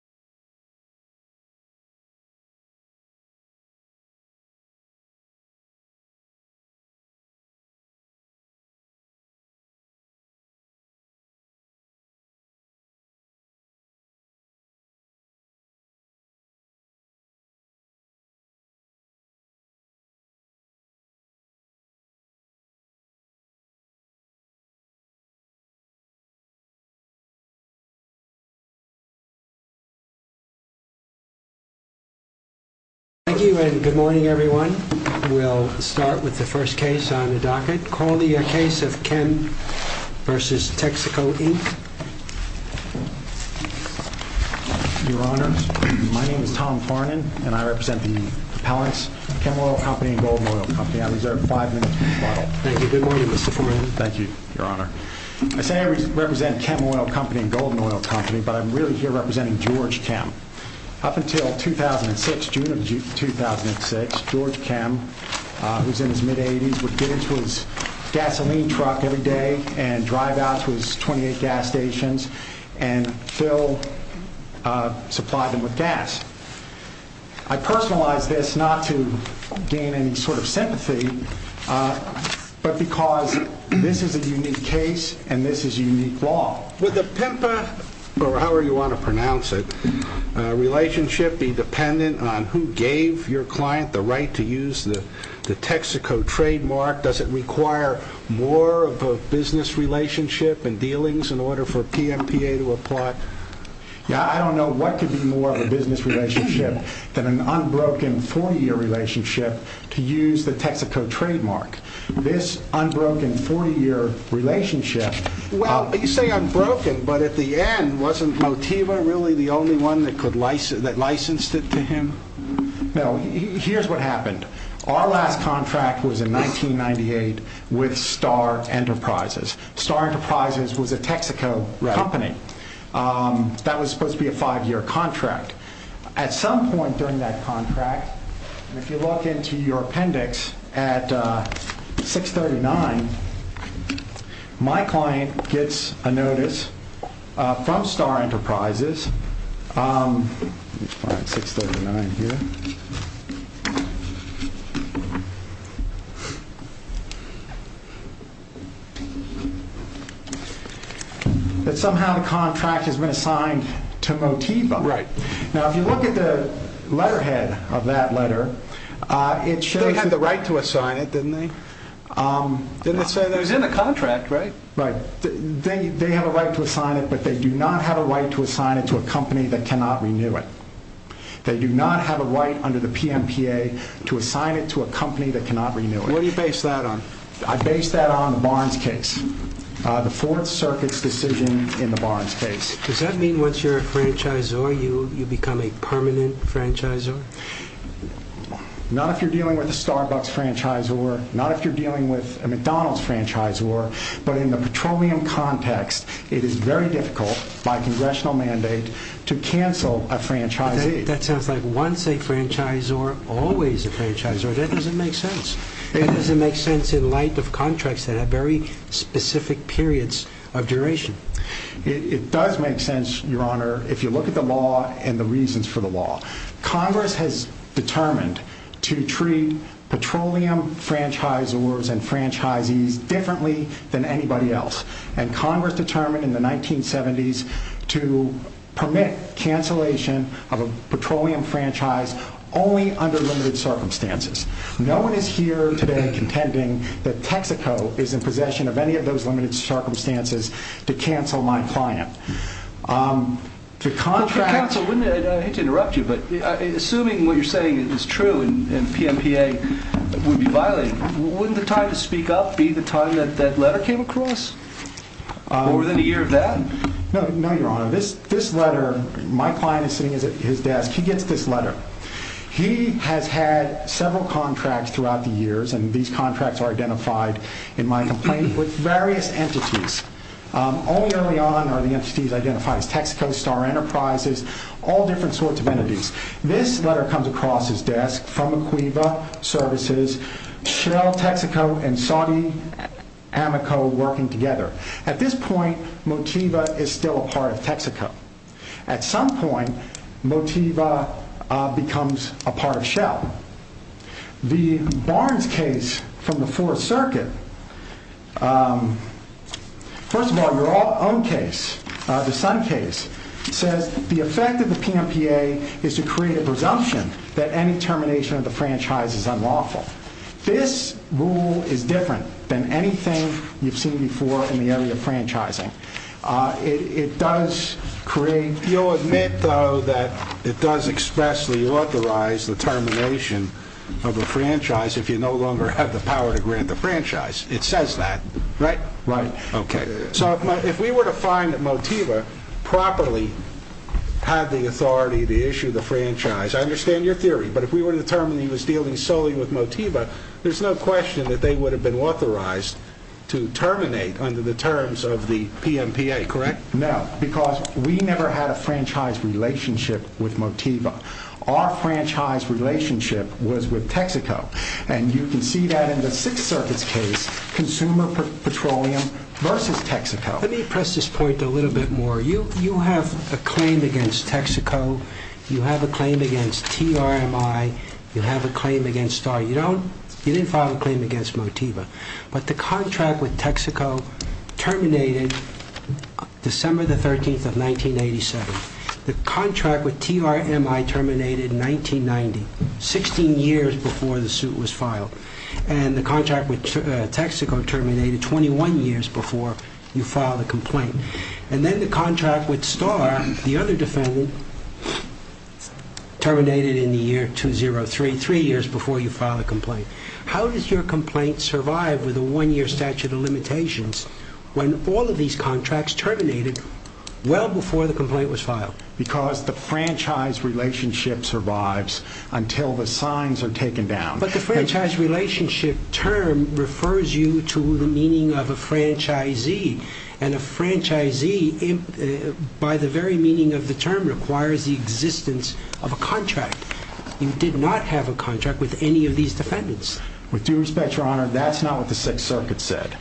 www.kehmoilco.com Good morning, everyone. We'll start with the first case on the docket. Call the case of Kehm v. Texaco, Inc. Your Honor, my name is Tom Farnan, and I represent the appellants Kehm Oil Company and Golden Oil Company. I reserve five minutes for the trial. Thank you. Good morning, Mr. Farnan. Thank you, Your Honor. I say I represent Kehm Oil Company but I'm really here representing George Kehm. Up until 2006, June of 2006, George Kehm, who's in his mid-eighties, would get into his gasoline truck every day and drive out to his 28 gas stations and fill, supply them with gas. I personalize this not to gain any sort of sympathy, but because this is a unique case and this is unique law. Would the PEMPA, or however you want to pronounce it, relationship be dependent on who gave your client the right to use the Texaco trademark? Does it require more of a business relationship and dealings in order for PMPA to apply? I don't know what could be more of a business relationship than an unbroken 40-year relationship to use the Texaco trademark. This unbroken 40-year relationship. Well, you say unbroken, but at the end, wasn't Motiva really the only one that licensed it to him? No. Here's what happened. Our last contract was in 1998 with Star Enterprises. Star Enterprises was a Texaco company. That was supposed to be a five-year contract. At some point during that contract, if you look into your appendix at 639, my client gets a notice from Star Enterprises, that somehow the contract has been assigned to Motiva. Right. Now, if you look at the letterhead of that letter, it shows that... They had the right to assign it, didn't they? It was in the contract, right? Right. They have a right to assign it, but they do not have a right to assign it to a company that cannot renew it. They do not have a right under the PEMPA to assign it to a company that cannot renew it. Where do you base that on? I base that on the Barnes case. The Fourth Circuit's decision in the Barnes case. Does that mean once you're a franchisor, you become a permanent franchisor? Not if you're dealing with a Starbucks franchisor, not if you're dealing with a McDonald's franchisor, but in the petroleum context, it is very difficult by congressional mandate to cancel a franchisee. That sounds like once a franchisor, always a franchisor. That doesn't make sense. That doesn't make sense in light of contracts that have very specific periods of duration. It does make sense, Your Honor, if you look at the law and the reasons for the law. Congress has determined to treat petroleum franchisors and franchisees differently than anybody else. And Congress determined in the 1970s to permit cancellation of a petroleum franchise only under limited circumstances. No one is here today contending that Texaco is in possession of any of those limited circumstances to cancel my client. I hate to interrupt you, but assuming what you're saying is true and PMPA would be violated, wouldn't the time to speak up be the time that letter came across? More than a year of that? No, Your Honor. This letter, my client is sitting at his desk. He gets this letter. He has had several contracts throughout the years, and these contracts are identified in my complaint with various entities. Only early on are the entities identified as Texaco, Star Enterprises, all different sorts of entities. This letter comes across his desk from Equiva Services, Chanel Texaco, and Saudi Amoco working together. At this point, Motiva is still a part of Texaco. At some point, Motiva becomes a part of Shell. The Barnes case from the Fourth Circuit, first of all, your own case, the Sun case, says the effect of the PMPA is to create a presumption that any termination of the franchise is unlawful. This rule is different than anything you've seen before in the area of franchising. It does create, you'll admit though that it does expressly authorize the termination of a franchise if you no longer have the power to grant the franchise. It says that, right? Right. Okay. So if we were to find that Motiva properly had the authority to issue the franchise, I understand your theory, but if we were to determine he was dealing solely with Motiva, there's no question that they would have been authorized to terminate under the terms of the PMPA, correct? No, because we never had a franchise relationship with Motiva. Our franchise relationship was with Texaco. And you can see that in the Sixth Circuit's case, Consumer Petroleum versus Texaco. Let me press this point a little bit more. You have a claim against Texaco. You have a claim against TRMI. You have a claim against STAR. You don't, you didn't file a claim against Motiva. But the contract with Texaco terminated December the 13th of 1987. The contract with TRMI terminated in 1990, 16 years before the suit was filed. And the contract with Texaco terminated 21 years before you filed a complaint. And then the contract with STAR, the other defendant, terminated in the year 2003, three years before you filed a complaint. How does your complaint survive with a one-year statute of limitations when all of these contracts terminated well before the complaint was filed? Because the franchise relationship survives until the signs are taken down. But the franchise relationship term refers you to the meaning of a franchisee. And a franchisee, by the very meaning of the term, requires the existence of a contract. You did not have a contract with any of these defendants. With due respect, Your Honor, that's not what the Sixth Circuit said.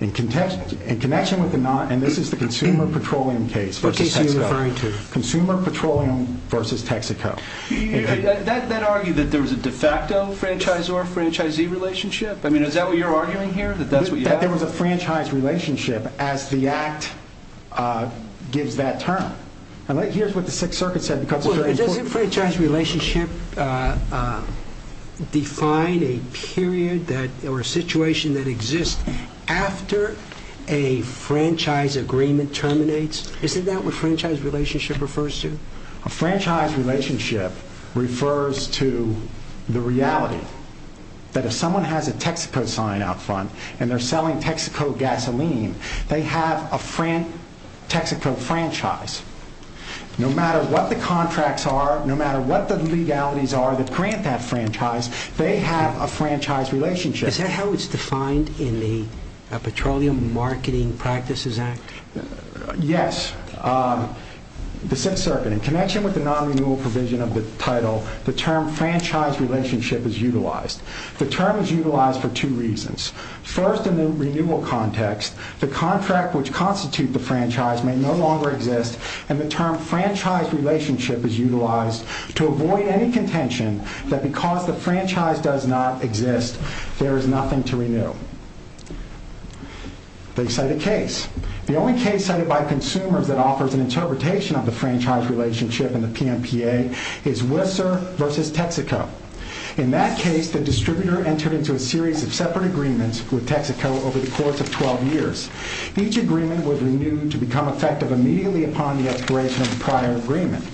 In connection with the not, and this is the Consumer Petroleum case versus Texaco. What case are you referring to? Consumer Petroleum versus Texaco. That argued that there was a de facto franchisor-franchisee relationship? I mean, is that what you're arguing here, that that's what you have? That there was a franchise relationship as the Act gives that term. Here's what the Sixth Circuit said. Doesn't franchise relationship define a period or a situation that exists after a franchise agreement terminates? Isn't that what franchise relationship refers to? A franchise relationship refers to the reality that if someone has a Texaco sign out front and they're selling Texaco gasoline, they have a Texaco franchise. No matter what the contracts are, no matter what the legalities are that grant that franchise, they have a franchise relationship. Is that how it's defined in the Petroleum Marketing Practices Act? Yes. The Sixth Circuit, in connection with the non-renewal provision of the title, the term franchise relationship is utilized. The term is utilized for two reasons. First, in the renewal context, the contract which constitutes the franchise may no longer exist and the term franchise relationship is utilized to avoid any contention that because the franchise does not exist, there is nothing to renew. They cite a case. The only case cited by consumers that offers an interpretation of the franchise relationship in the PMPA is Whistler versus Texaco. In that case, the distributor entered into a series of separate agreements with Texaco over the course of 12 years. Each agreement would renew to become effective immediately upon the expiration of the prior agreement.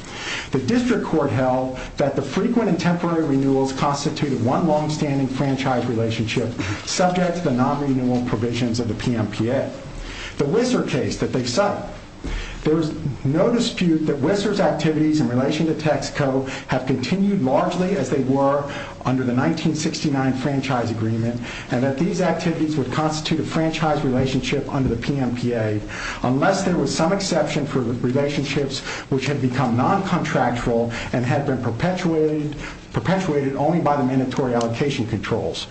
The district court held that the frequent and temporary renewals constituted one long-standing franchise relationship subject to the non-renewal provisions of the PMPA. The Whistler case that they cite, there is no dispute that Whistler's activities in relation to Texaco have continued largely as they were under the 1969 franchise agreement and that these activities would constitute a franchise relationship under the PMPA unless there was some exception for relationships which had become non-contractual and had been perpetuated only by the mandatory allocation controls.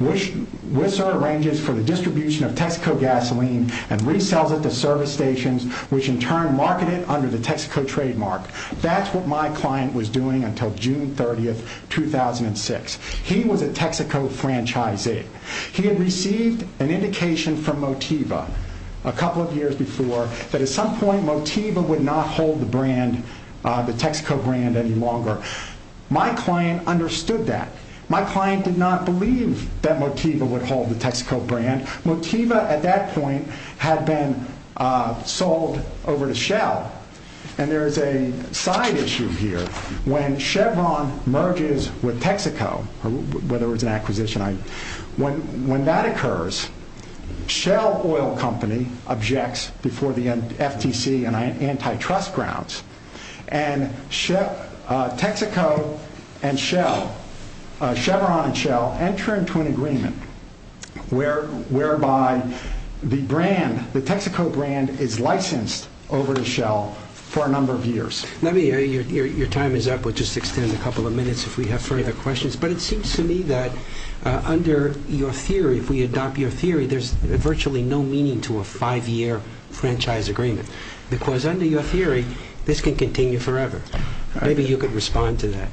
Whistler arranges for the distribution of Texaco gasoline and resells it to service stations which in turn market it under the Texaco trademark. That's what my client was doing until June 30, 2006. He was a Texaco franchisee. He had received an indication from Motiva a couple of years before that at some point Motiva would not hold the Texaco brand any longer. My client understood that. My client did not believe that Motiva would hold the Texaco brand. Motiva at that point had been sold over to Shell. And there is a side issue here. When Chevron merges with Texaco, whether it was an acquisition, when that occurs, Shell Oil Company objects before the FTC and antitrust grounds and Texaco and Shell, Chevron and Shell, enter into an agreement whereby the Texaco brand is licensed over to Shell for a number of years. Let me, your time is up. We'll just extend a couple of minutes if we have further questions. But it seems to me that under your theory, if we adopt your theory, there's virtually no meaning to a five-year franchise agreement because under your theory, this can continue forever. Maybe you could respond to that.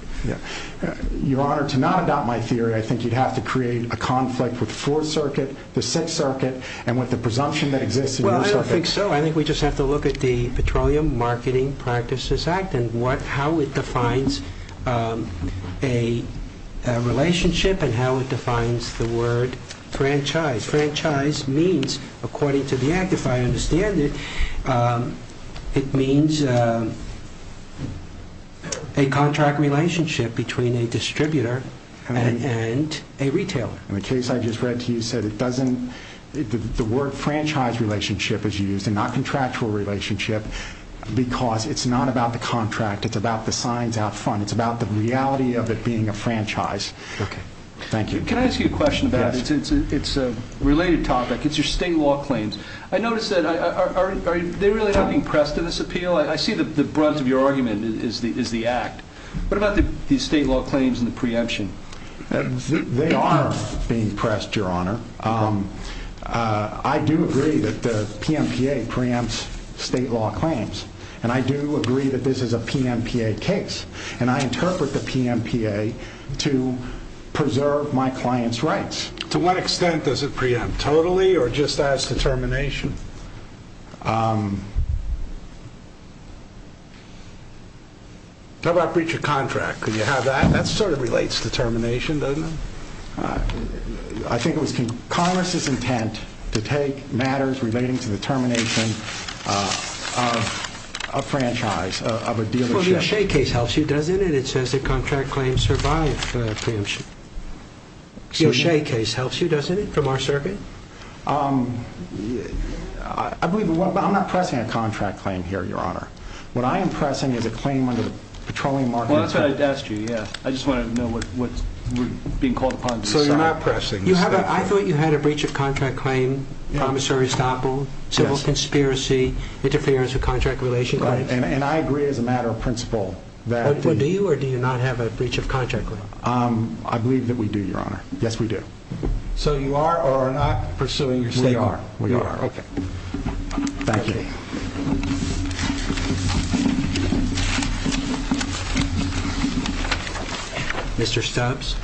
Your Honor, to not adopt my theory, I think you'd have to create a conflict with the Fourth Circuit, the Sixth Circuit, and with the presumption that exists in your circuit. Well, I don't think so. I think we just have to look at the Petroleum Marketing Practices Act and how it defines a relationship and how it defines the word franchise. Franchise means, according to the Act, if I understand it, it means a contract relationship between a distributor and a retailer. And the case I just read to you said it doesn't, the word franchise relationship is used and not contractual relationship because it's not about the contract. It's about the signs out front. It's about the reality of it being a franchise. Okay. Thank you. Can I ask you a question about it? Yes. It's a related topic. It's your state law claims. I noticed that are they really not being pressed in this appeal? I see the brunt of your argument is the Act. What about the state law claims and the preemption? They are being pressed, Your Honor. I do agree that the PMPA preempts state law claims, and I do agree that this is a PMPA case, and I interpret the PMPA to preserve my client's rights. To what extent does it preempt? Totally or just as determination? How about breach of contract? Could you have that? That sort of relates to termination, doesn't it? I think it was Congress's intent to take matters relating to the termination of a franchise, of a dealership. Well, the O'Shea case helps you, doesn't it? It says that contract claims survive preemption. The O'Shea case helps you, doesn't it, from our circuit? I'm not pressing a contract claim here, Your Honor. What I am pressing is a claim under the Petroleum Market Act. Well, that's what I asked you, yes. I just wanted to know what's being called upon to decide. So you're not pressing state law. I thought you had a breach of contract claim, promissory staple, civil conspiracy, interference with contract relation claims. And I agree as a matter of principle. Do you or do you not have a breach of contract claim? I believe that we do, Your Honor. Yes, we do. So you are or are not pursuing your statement? We are. Okay. Thank you. Mr. Stubbs?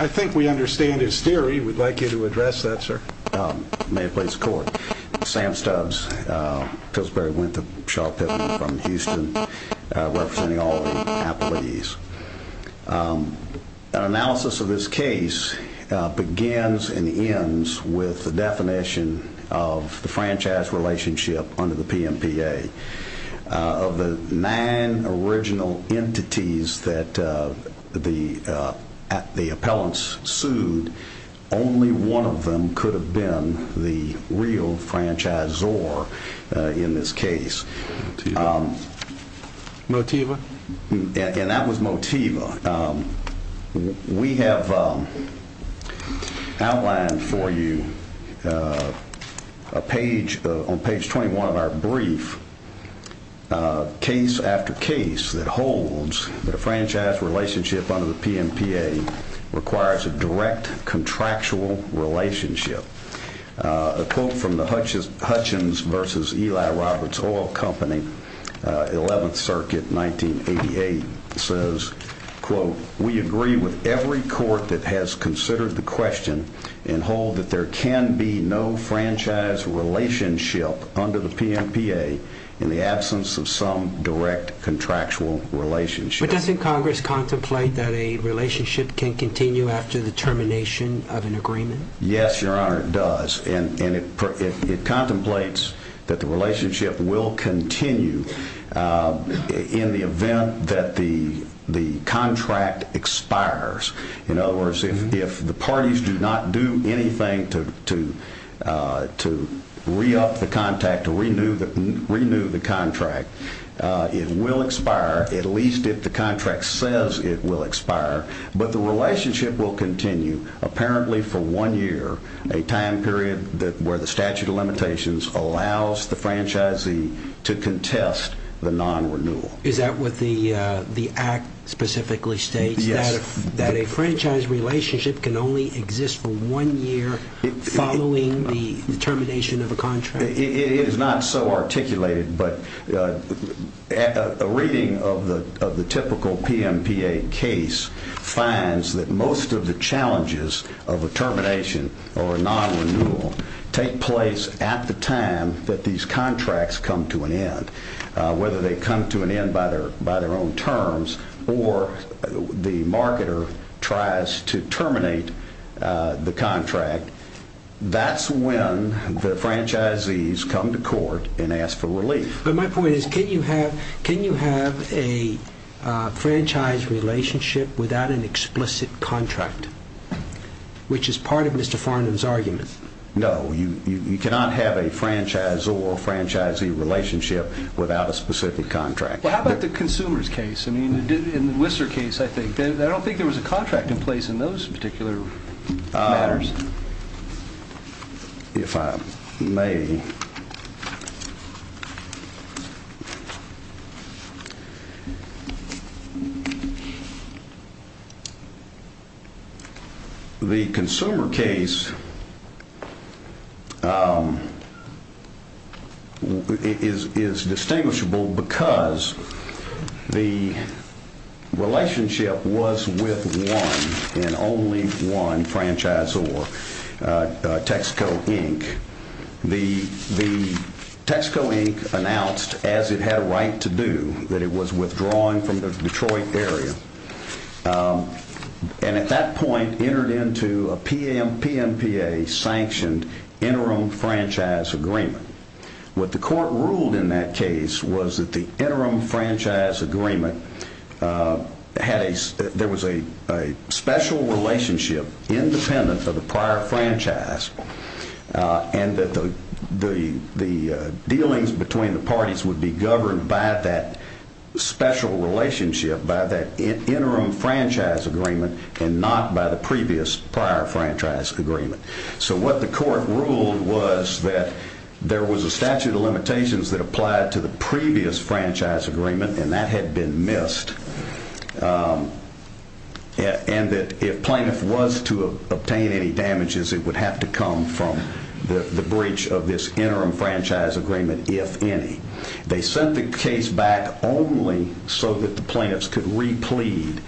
I think we understand his theory. We'd like you to address that, sir. May it please the Court? Sam Stubbs, Pillsbury-Winthrop Shaw Pavilion from Houston, representing all the appellees. An analysis of this case begins and ends with the definition of the franchise relationship under the PMPA. Of the nine original entities that the appellants sued, only one of them could have been the real franchisor in this case. Motiva? And that was Motiva. We have outlined for you on page 21 of our brief case after case that holds that a franchise relationship under the PMPA requires a direct contractual relationship. A quote from the Hutchins v. Eli Roberts Oil Company, 11th Circuit, 1988, says, quote, we agree with every court that has considered the question and hold that there can be no franchise relationship under the PMPA in the absence of some direct contractual relationship. But doesn't Congress contemplate that a relationship can continue after the termination of an agreement? Yes, Your Honor, it does. And it contemplates that the relationship will continue in the event that the contract expires. In other words, if the parties do not do anything to re-up the contract, to renew the contract, it will expire, at least if the contract says it will expire. But the relationship will continue, apparently for one year, a time period where the statute of limitations allows the franchisee to contest the non-renewal. Is that what the Act specifically states? Yes. That a franchise relationship can only exist for one year following the termination of a contract? It is not so articulated, but a reading of the typical PMPA case finds that most of the challenges of a termination or a non-renewal take place at the time that these contracts come to an end, whether they come to an end by their own terms or the marketer tries to terminate the contract. That's when the franchisees come to court and ask for relief. But my point is, can you have a franchise relationship without an explicit contract, which is part of Mr. Farnum's argument? No, you cannot have a franchise or a franchisee relationship without a specific contract. How about the consumers case? In the Whistler case, I don't think there was a contract in place in those particular matters. If I may, the consumer case is distinguishable because the relationship was with one and only one franchisee. In the case of Texaco Inc., the Texaco Inc. announced, as it had a right to do, that it was withdrawing from the Detroit area and at that point entered into a PMPA-sanctioned interim franchise agreement. What the court ruled in that case was that the interim franchise agreement had a special relationship independent of the prior franchise and that the dealings between the parties would be governed by that special relationship, by that interim franchise agreement and not by the previous prior franchise agreement. So what the court ruled was that there was a statute of limitations that applied to the previous franchise agreement and that had been missed. And that if plaintiff was to obtain any damages, it would have to come from the breach of this interim franchise agreement, if any. They sent the case back only so that the plaintiffs could re-plead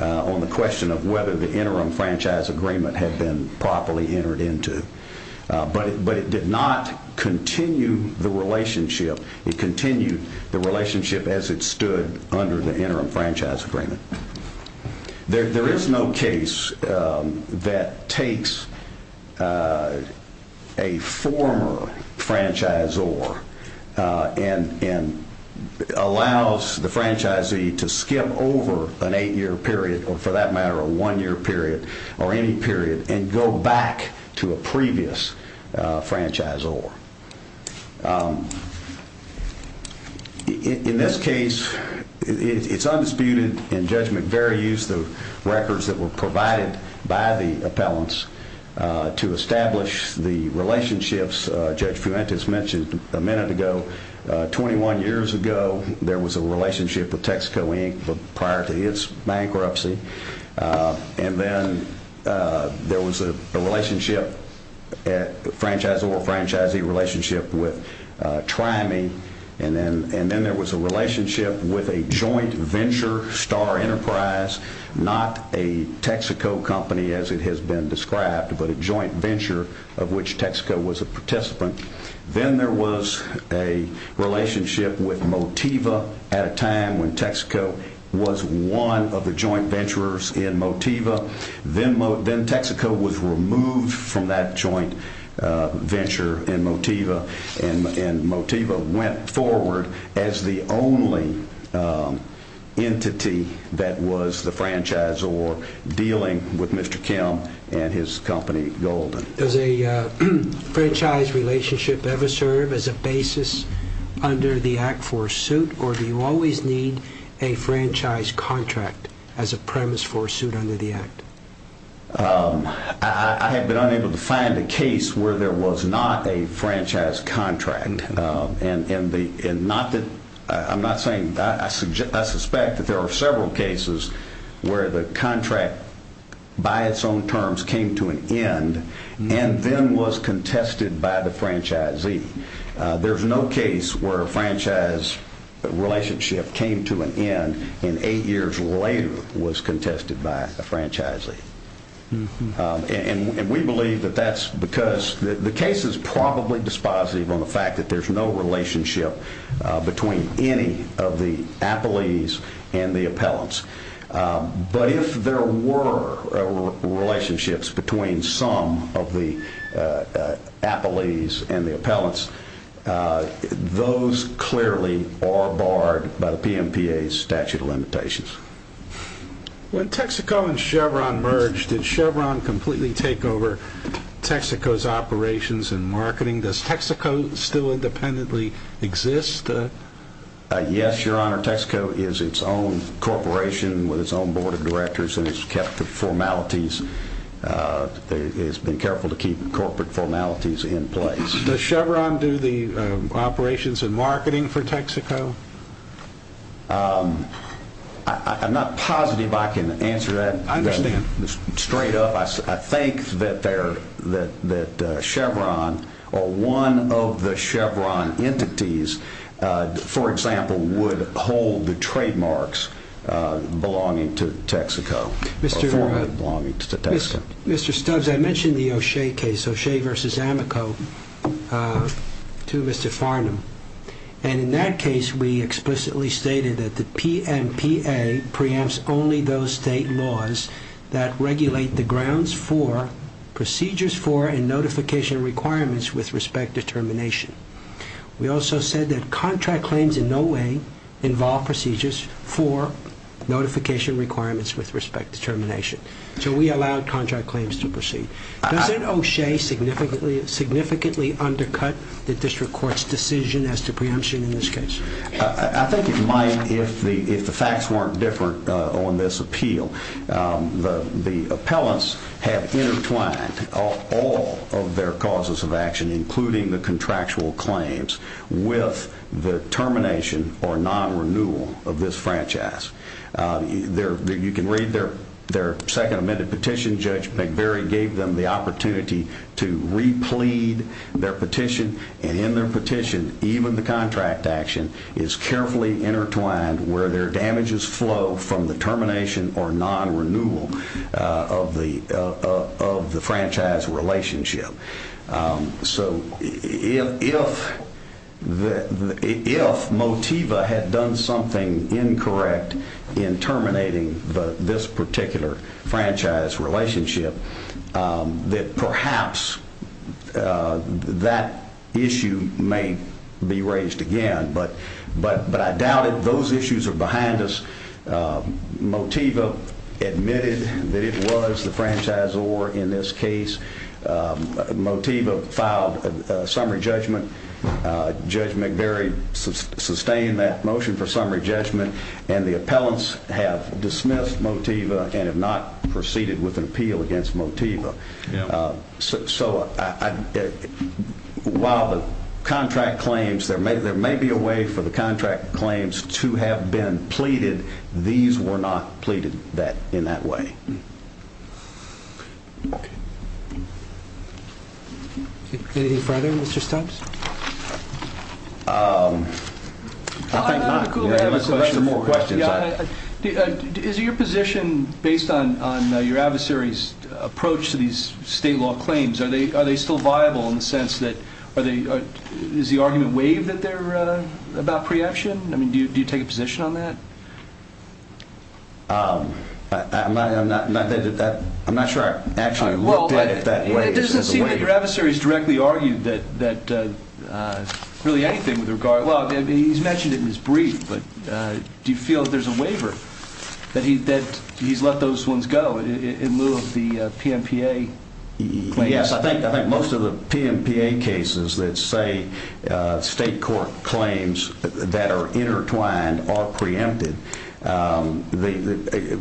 on the question of whether the interim franchise agreement had been properly entered into. But it did not continue the relationship. It continued the relationship as it stood under the interim franchise agreement. There is no case that takes a former franchisor and allows the franchisee to skip over an 8-year period or, for that matter, a 1-year period or any period and go back to a previous franchisor. In this case, it's undisputed in Judge McVeary's use of records that were provided by the appellants to establish the relationships Judge Fuentes mentioned a minute ago. Twenty-one years ago, there was a relationship with Texaco, Inc. prior to its bankruptcy. And then there was a franchisee-franchisor relationship with Try Me. And then there was a relationship with a joint venture, Star Enterprise, not a Texaco company as it has been described, but a joint venture of which Texaco was a participant. Then there was a relationship with Motiva at a time when Texaco was one of the joint venturers in Motiva. Then Texaco was removed from that joint venture in Motiva. And Motiva went forward as the only entity that was the franchisor dealing with Mr. Kim and his company, Golden. Does a franchise relationship ever serve as a basis under the Act for a suit, or do you always need a franchise contract as a premise for a suit under the Act? I have been unable to find a case where there was not a franchise contract. I suspect that there are several cases where the contract, by its own terms, came to an end and then was contested by the franchisee. There's no case where a franchise relationship came to an end and eight years later was contested by a franchisee. And we believe that that's because the case is probably dispositive on the fact that there's no relationship between any of the appellees and the appellants. But if there were relationships between some of the appellees and the appellants, those clearly are barred by the PMPA's statute of limitations. When Texaco and Chevron merged, did Chevron completely take over Texaco's operations and marketing? Does Texaco still independently exist? Yes, your honor. Texaco is its own corporation with its own board of directors and has kept the formalities. It's been careful to keep corporate formalities in place. Does Chevron do the operations and marketing for Texaco? I'm not positive I can answer that straight up. I think that Chevron or one of the Chevron entities, for example, would hold the trademarks belonging to Texaco. Mr. Stubbs, I mentioned the O'Shea case, O'Shea v. Amico, to Mr. Farnham. And in that case, we explicitly stated that the PMPA preempts only those state laws that regulate the grounds for, procedures for, and notification requirements with respect to termination. We also said that contract claims in no way involve procedures for notification requirements with respect to termination. So we allowed contract claims to proceed. Doesn't O'Shea significantly undercut the district court's decision as to preemption in this case? I think it might if the facts weren't different on this appeal. The appellants have intertwined all of their causes of action, including the contractual claims, with the termination or non-renewal of this franchise. You can read their second amended petition. Judge McBury gave them the opportunity to re-plead their petition. And in their petition, even the contract action is carefully intertwined where their damages flow from the termination or non-renewal of the franchise relationship. So if Motiva had done something incorrect in terminating this particular franchise relationship, that perhaps that issue may be raised again. But I doubt it. Those issues are behind us. Motiva admitted that it was the franchisor in this case. Motiva filed a summary judgment. Judge McBury sustained that motion for summary judgment. And the appellants have dismissed Motiva and have not proceeded with an appeal against Motiva. So while there may be a way for the contract claims to have been pleaded, these were not pleaded in that way. Any further Mr. Stubbs? I have a couple more questions. Is your position based on your adversary's approach to these state law claims, are they still viable in the sense that, is the argument waived about preemption? Do you take a position on that? I'm not sure I actually looked at it that way. It doesn't seem that your adversary has directly argued that really anything with regard, well he's mentioned it in his brief, but do you feel that there's a waiver, that he's let those ones go in lieu of the PMPA claims? Yes, I think most of the PMPA cases that say state court claims that are intertwined are preempted.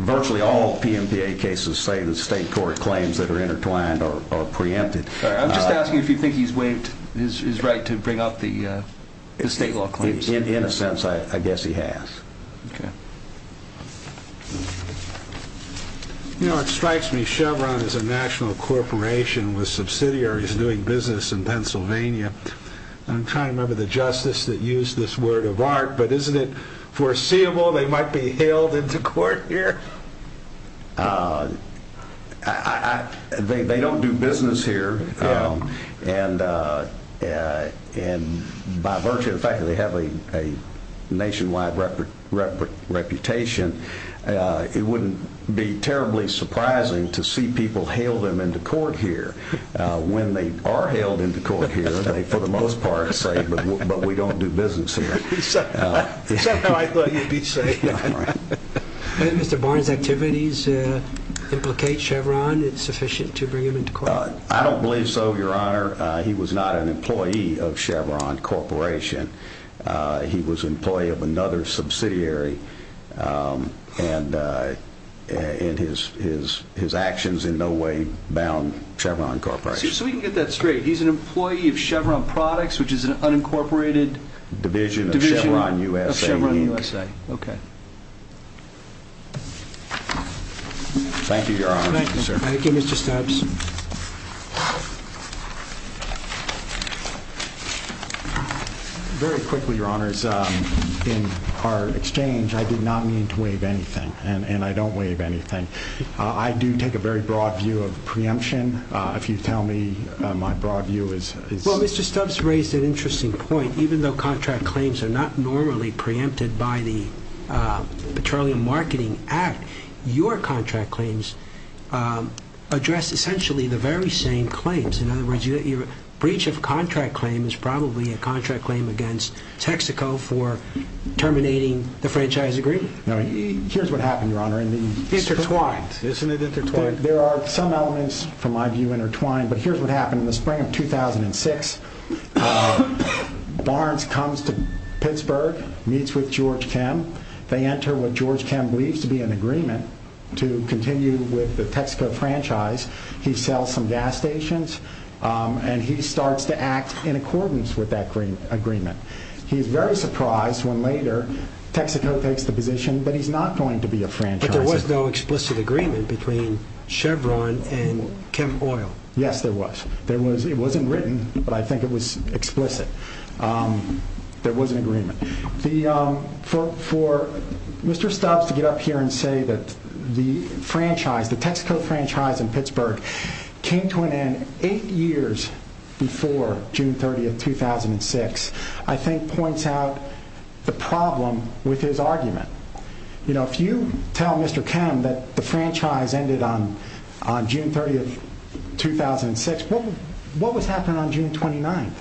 Virtually all PMPA cases say that state court claims that are intertwined are preempted. I'm just asking if you think he's waived his right to bring up the state law claims. In a sense I guess he has. It strikes me Chevron is a national corporation with subsidiaries doing business in Pennsylvania. I'm trying to remember the justice that used this word of art, but isn't it foreseeable they might be hailed into court here? They don't do business here, and by virtue of the fact that they have a nationwide reputation, it wouldn't be terribly surprising to see people hailed into court here. When they are hailed into court here, they for the most part say, but we don't do business here. Somehow I thought you'd be saying that. Do you think Mr. Barnes' activities implicate Chevron? Is it sufficient to bring him into court? I don't believe so, Your Honor. He was not an employee of Chevron Corporation. He was an employee of another subsidiary, and his actions in no way bound Chevron Corporation. So we can get that straight. He's an employee of Chevron Products, which is an unincorporated… Division of Chevron USA, Inc. Division of Chevron USA, okay. Thank you, Your Honor. Thank you, Mr. Stubbs. Very quickly, Your Honors, in our exchange, I did not mean to waive anything, and I don't waive anything. I do take a very broad view of preemption. If you tell me my broad view is… Mr. Stubbs raised an interesting point. Even though contract claims are not normally preempted by the Petroleum Marketing Act, your contract claims address essentially the very same claims. In other words, your breach of contract claim is probably a contract claim against Texaco for terminating the franchise agreement. Here's what happened, Your Honor. Intertwined. Isn't it intertwined? There are some elements, from my view, intertwined, but here's what happened. In the spring of 2006, Barnes comes to Pittsburgh, meets with George Chem. They enter what George Chem believes to be an agreement to continue with the Texaco franchise. He sells some gas stations, and he starts to act in accordance with that agreement. He's very surprised when later Texaco takes the position that he's not going to be a franchisor. There was no explicit agreement between Chevron and Chem Oil. Yes, there was. It wasn't written, but I think it was explicit. There was an agreement. For Mr. Stubbs to get up here and say that the Texaco franchise in Pittsburgh came to an end eight years before June 30, 2006, I think points out the problem with his argument. If you tell Mr. Chem that the franchise ended on June 30, 2006, what was happening on June 29?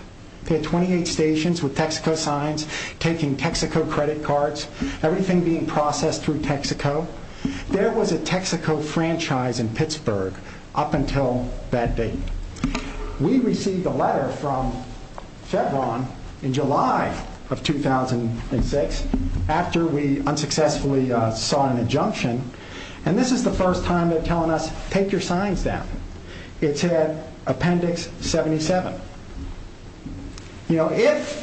They had 28 stations with Texaco signs, taking Texaco credit cards, everything being processed through Texaco. There was a Texaco franchise in Pittsburgh up until that date. We received a letter from Chevron in July of 2006 after we unsuccessfully saw an injunction, and this is the first time they're telling us, take your signs down. It said Appendix 77. If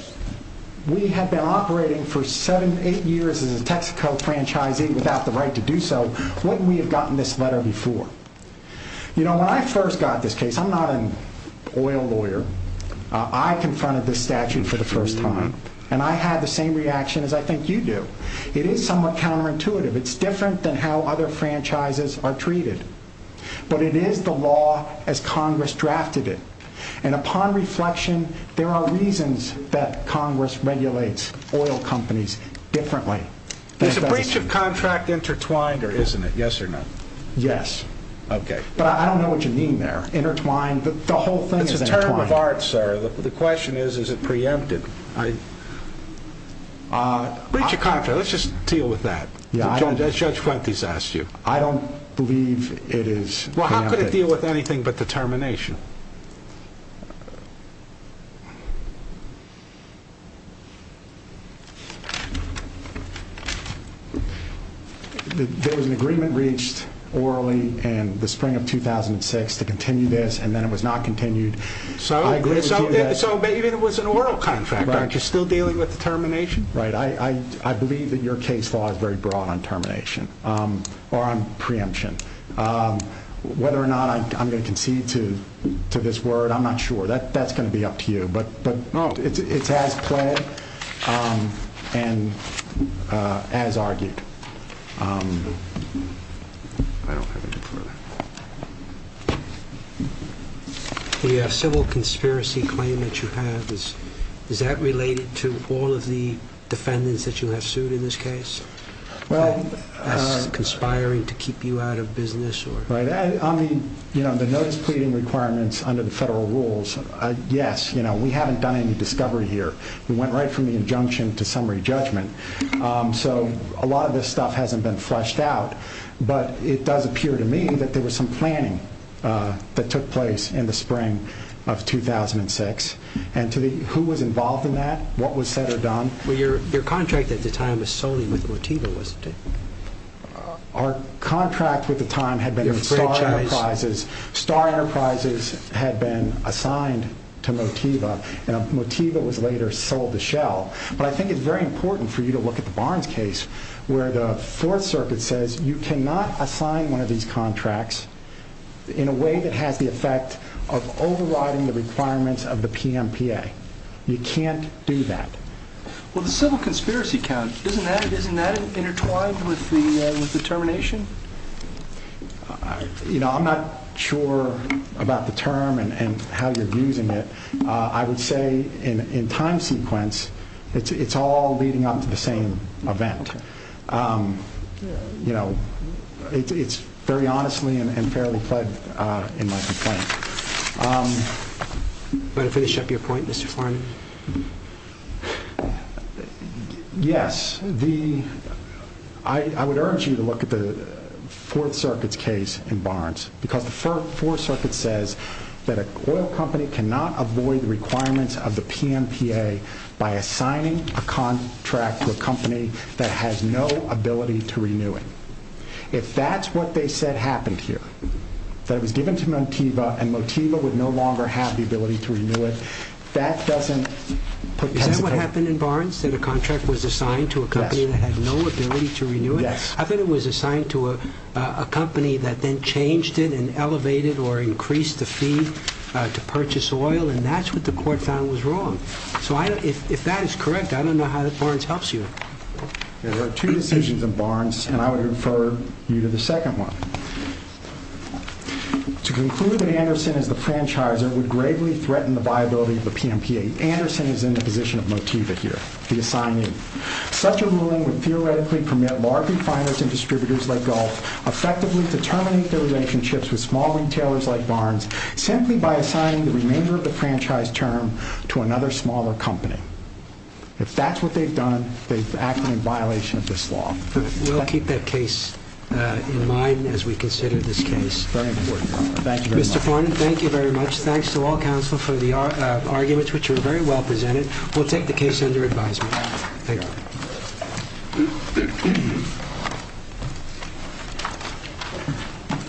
we had been operating for seven, eight years as a Texaco franchisee without the right to do so, wouldn't we have gotten this letter before? When I first got this case, I'm not an oil lawyer. I confronted this statute for the first time, and I had the same reaction as I think you do. It is somewhat counterintuitive. It's different than how other franchises are treated, but it is the law as Congress drafted it. Upon reflection, there are reasons that Congress regulates oil companies differently. There's a breach of contract intertwined, isn't there? Yes or no? Yes. Okay, but I don't know what you mean there. Intertwined? The whole thing is intertwined. It's a term of art, sir. The question is, is it preempted? Breach of contract, let's just deal with that, as Judge Fuentes asked you. I don't believe it is preempted. Well, how could it deal with anything but the termination? There was an agreement reached orally in the spring of 2006 to continue this, and then it was not continued. So maybe it was an oral contract, aren't you still dealing with the termination? Right. I believe that your case law is very broad on termination or on preemption. Whether or not I'm going to concede to this word, I'm not sure. That's going to be up to you, but it's as pled and as argued. The civil conspiracy claim that you have, is that related to all of the defendants that you have sued in this case? Conspiring to keep you out of business? The notice pleading requirements under the federal rules, yes. We haven't done any discovery here. We went right from the injunction to summary judgment. So a lot of this stuff hasn't been fleshed out. But it does appear to me that there was some planning that took place in the spring of 2006. Who was involved in that? What was said or done? Your contract at the time was solely with Motiva, wasn't it? Our contract with the time had been with Star Enterprises. Star Enterprises had been assigned to Motiva, and Motiva was later sold to Shell. But I think it's very important for you to look at the Barnes case, where the Fourth Circuit says, you cannot assign one of these contracts in a way that has the effect of overriding the requirements of the PMPA. You can't do that. Well, the civil conspiracy count, isn't that intertwined with the termination? You know, I'm not sure about the term and how you're using it. I would say in time sequence, it's all leading up to the same event. You know, it's very honestly and fairly pled in my complaint. Want to finish up your point, Mr. Foreman? Yes. I would urge you to look at the Fourth Circuit's case in Barnes, because the Fourth Circuit says that an oil company cannot avoid the requirements of the PMPA by assigning a contract to a company that has no ability to renew it. If that's what they said happened here, that it was given to Motiva, and Motiva would no longer have the ability to renew it, that doesn't... Is that what happened in Barnes, that a contract was assigned to a company that had no ability to renew it? Yes. I thought it was assigned to a company that then changed it and elevated or increased the fee to purchase oil, and that's what the court found was wrong. So if that is correct, I don't know how Barnes helps you. There are two decisions in Barnes, and I would refer you to the second one. To conclude that Anderson is the franchisor would gravely threaten the viability of the PMPA. Anderson is in the position of Motiva here, the assignee. Such a ruling would theoretically permit large refiners and distributors like Gulf effectively to terminate their relationships with small retailers like Barnes simply by assigning the remainder of the franchise term to another smaller company. If that's what they've done, they've acted in violation of this law. We'll keep that case in mind as we consider this case. Very important. Thank you very much. Mr. Farnan, thank you very much. Thanks to all counsel for the arguments, which were very well presented. Thank you.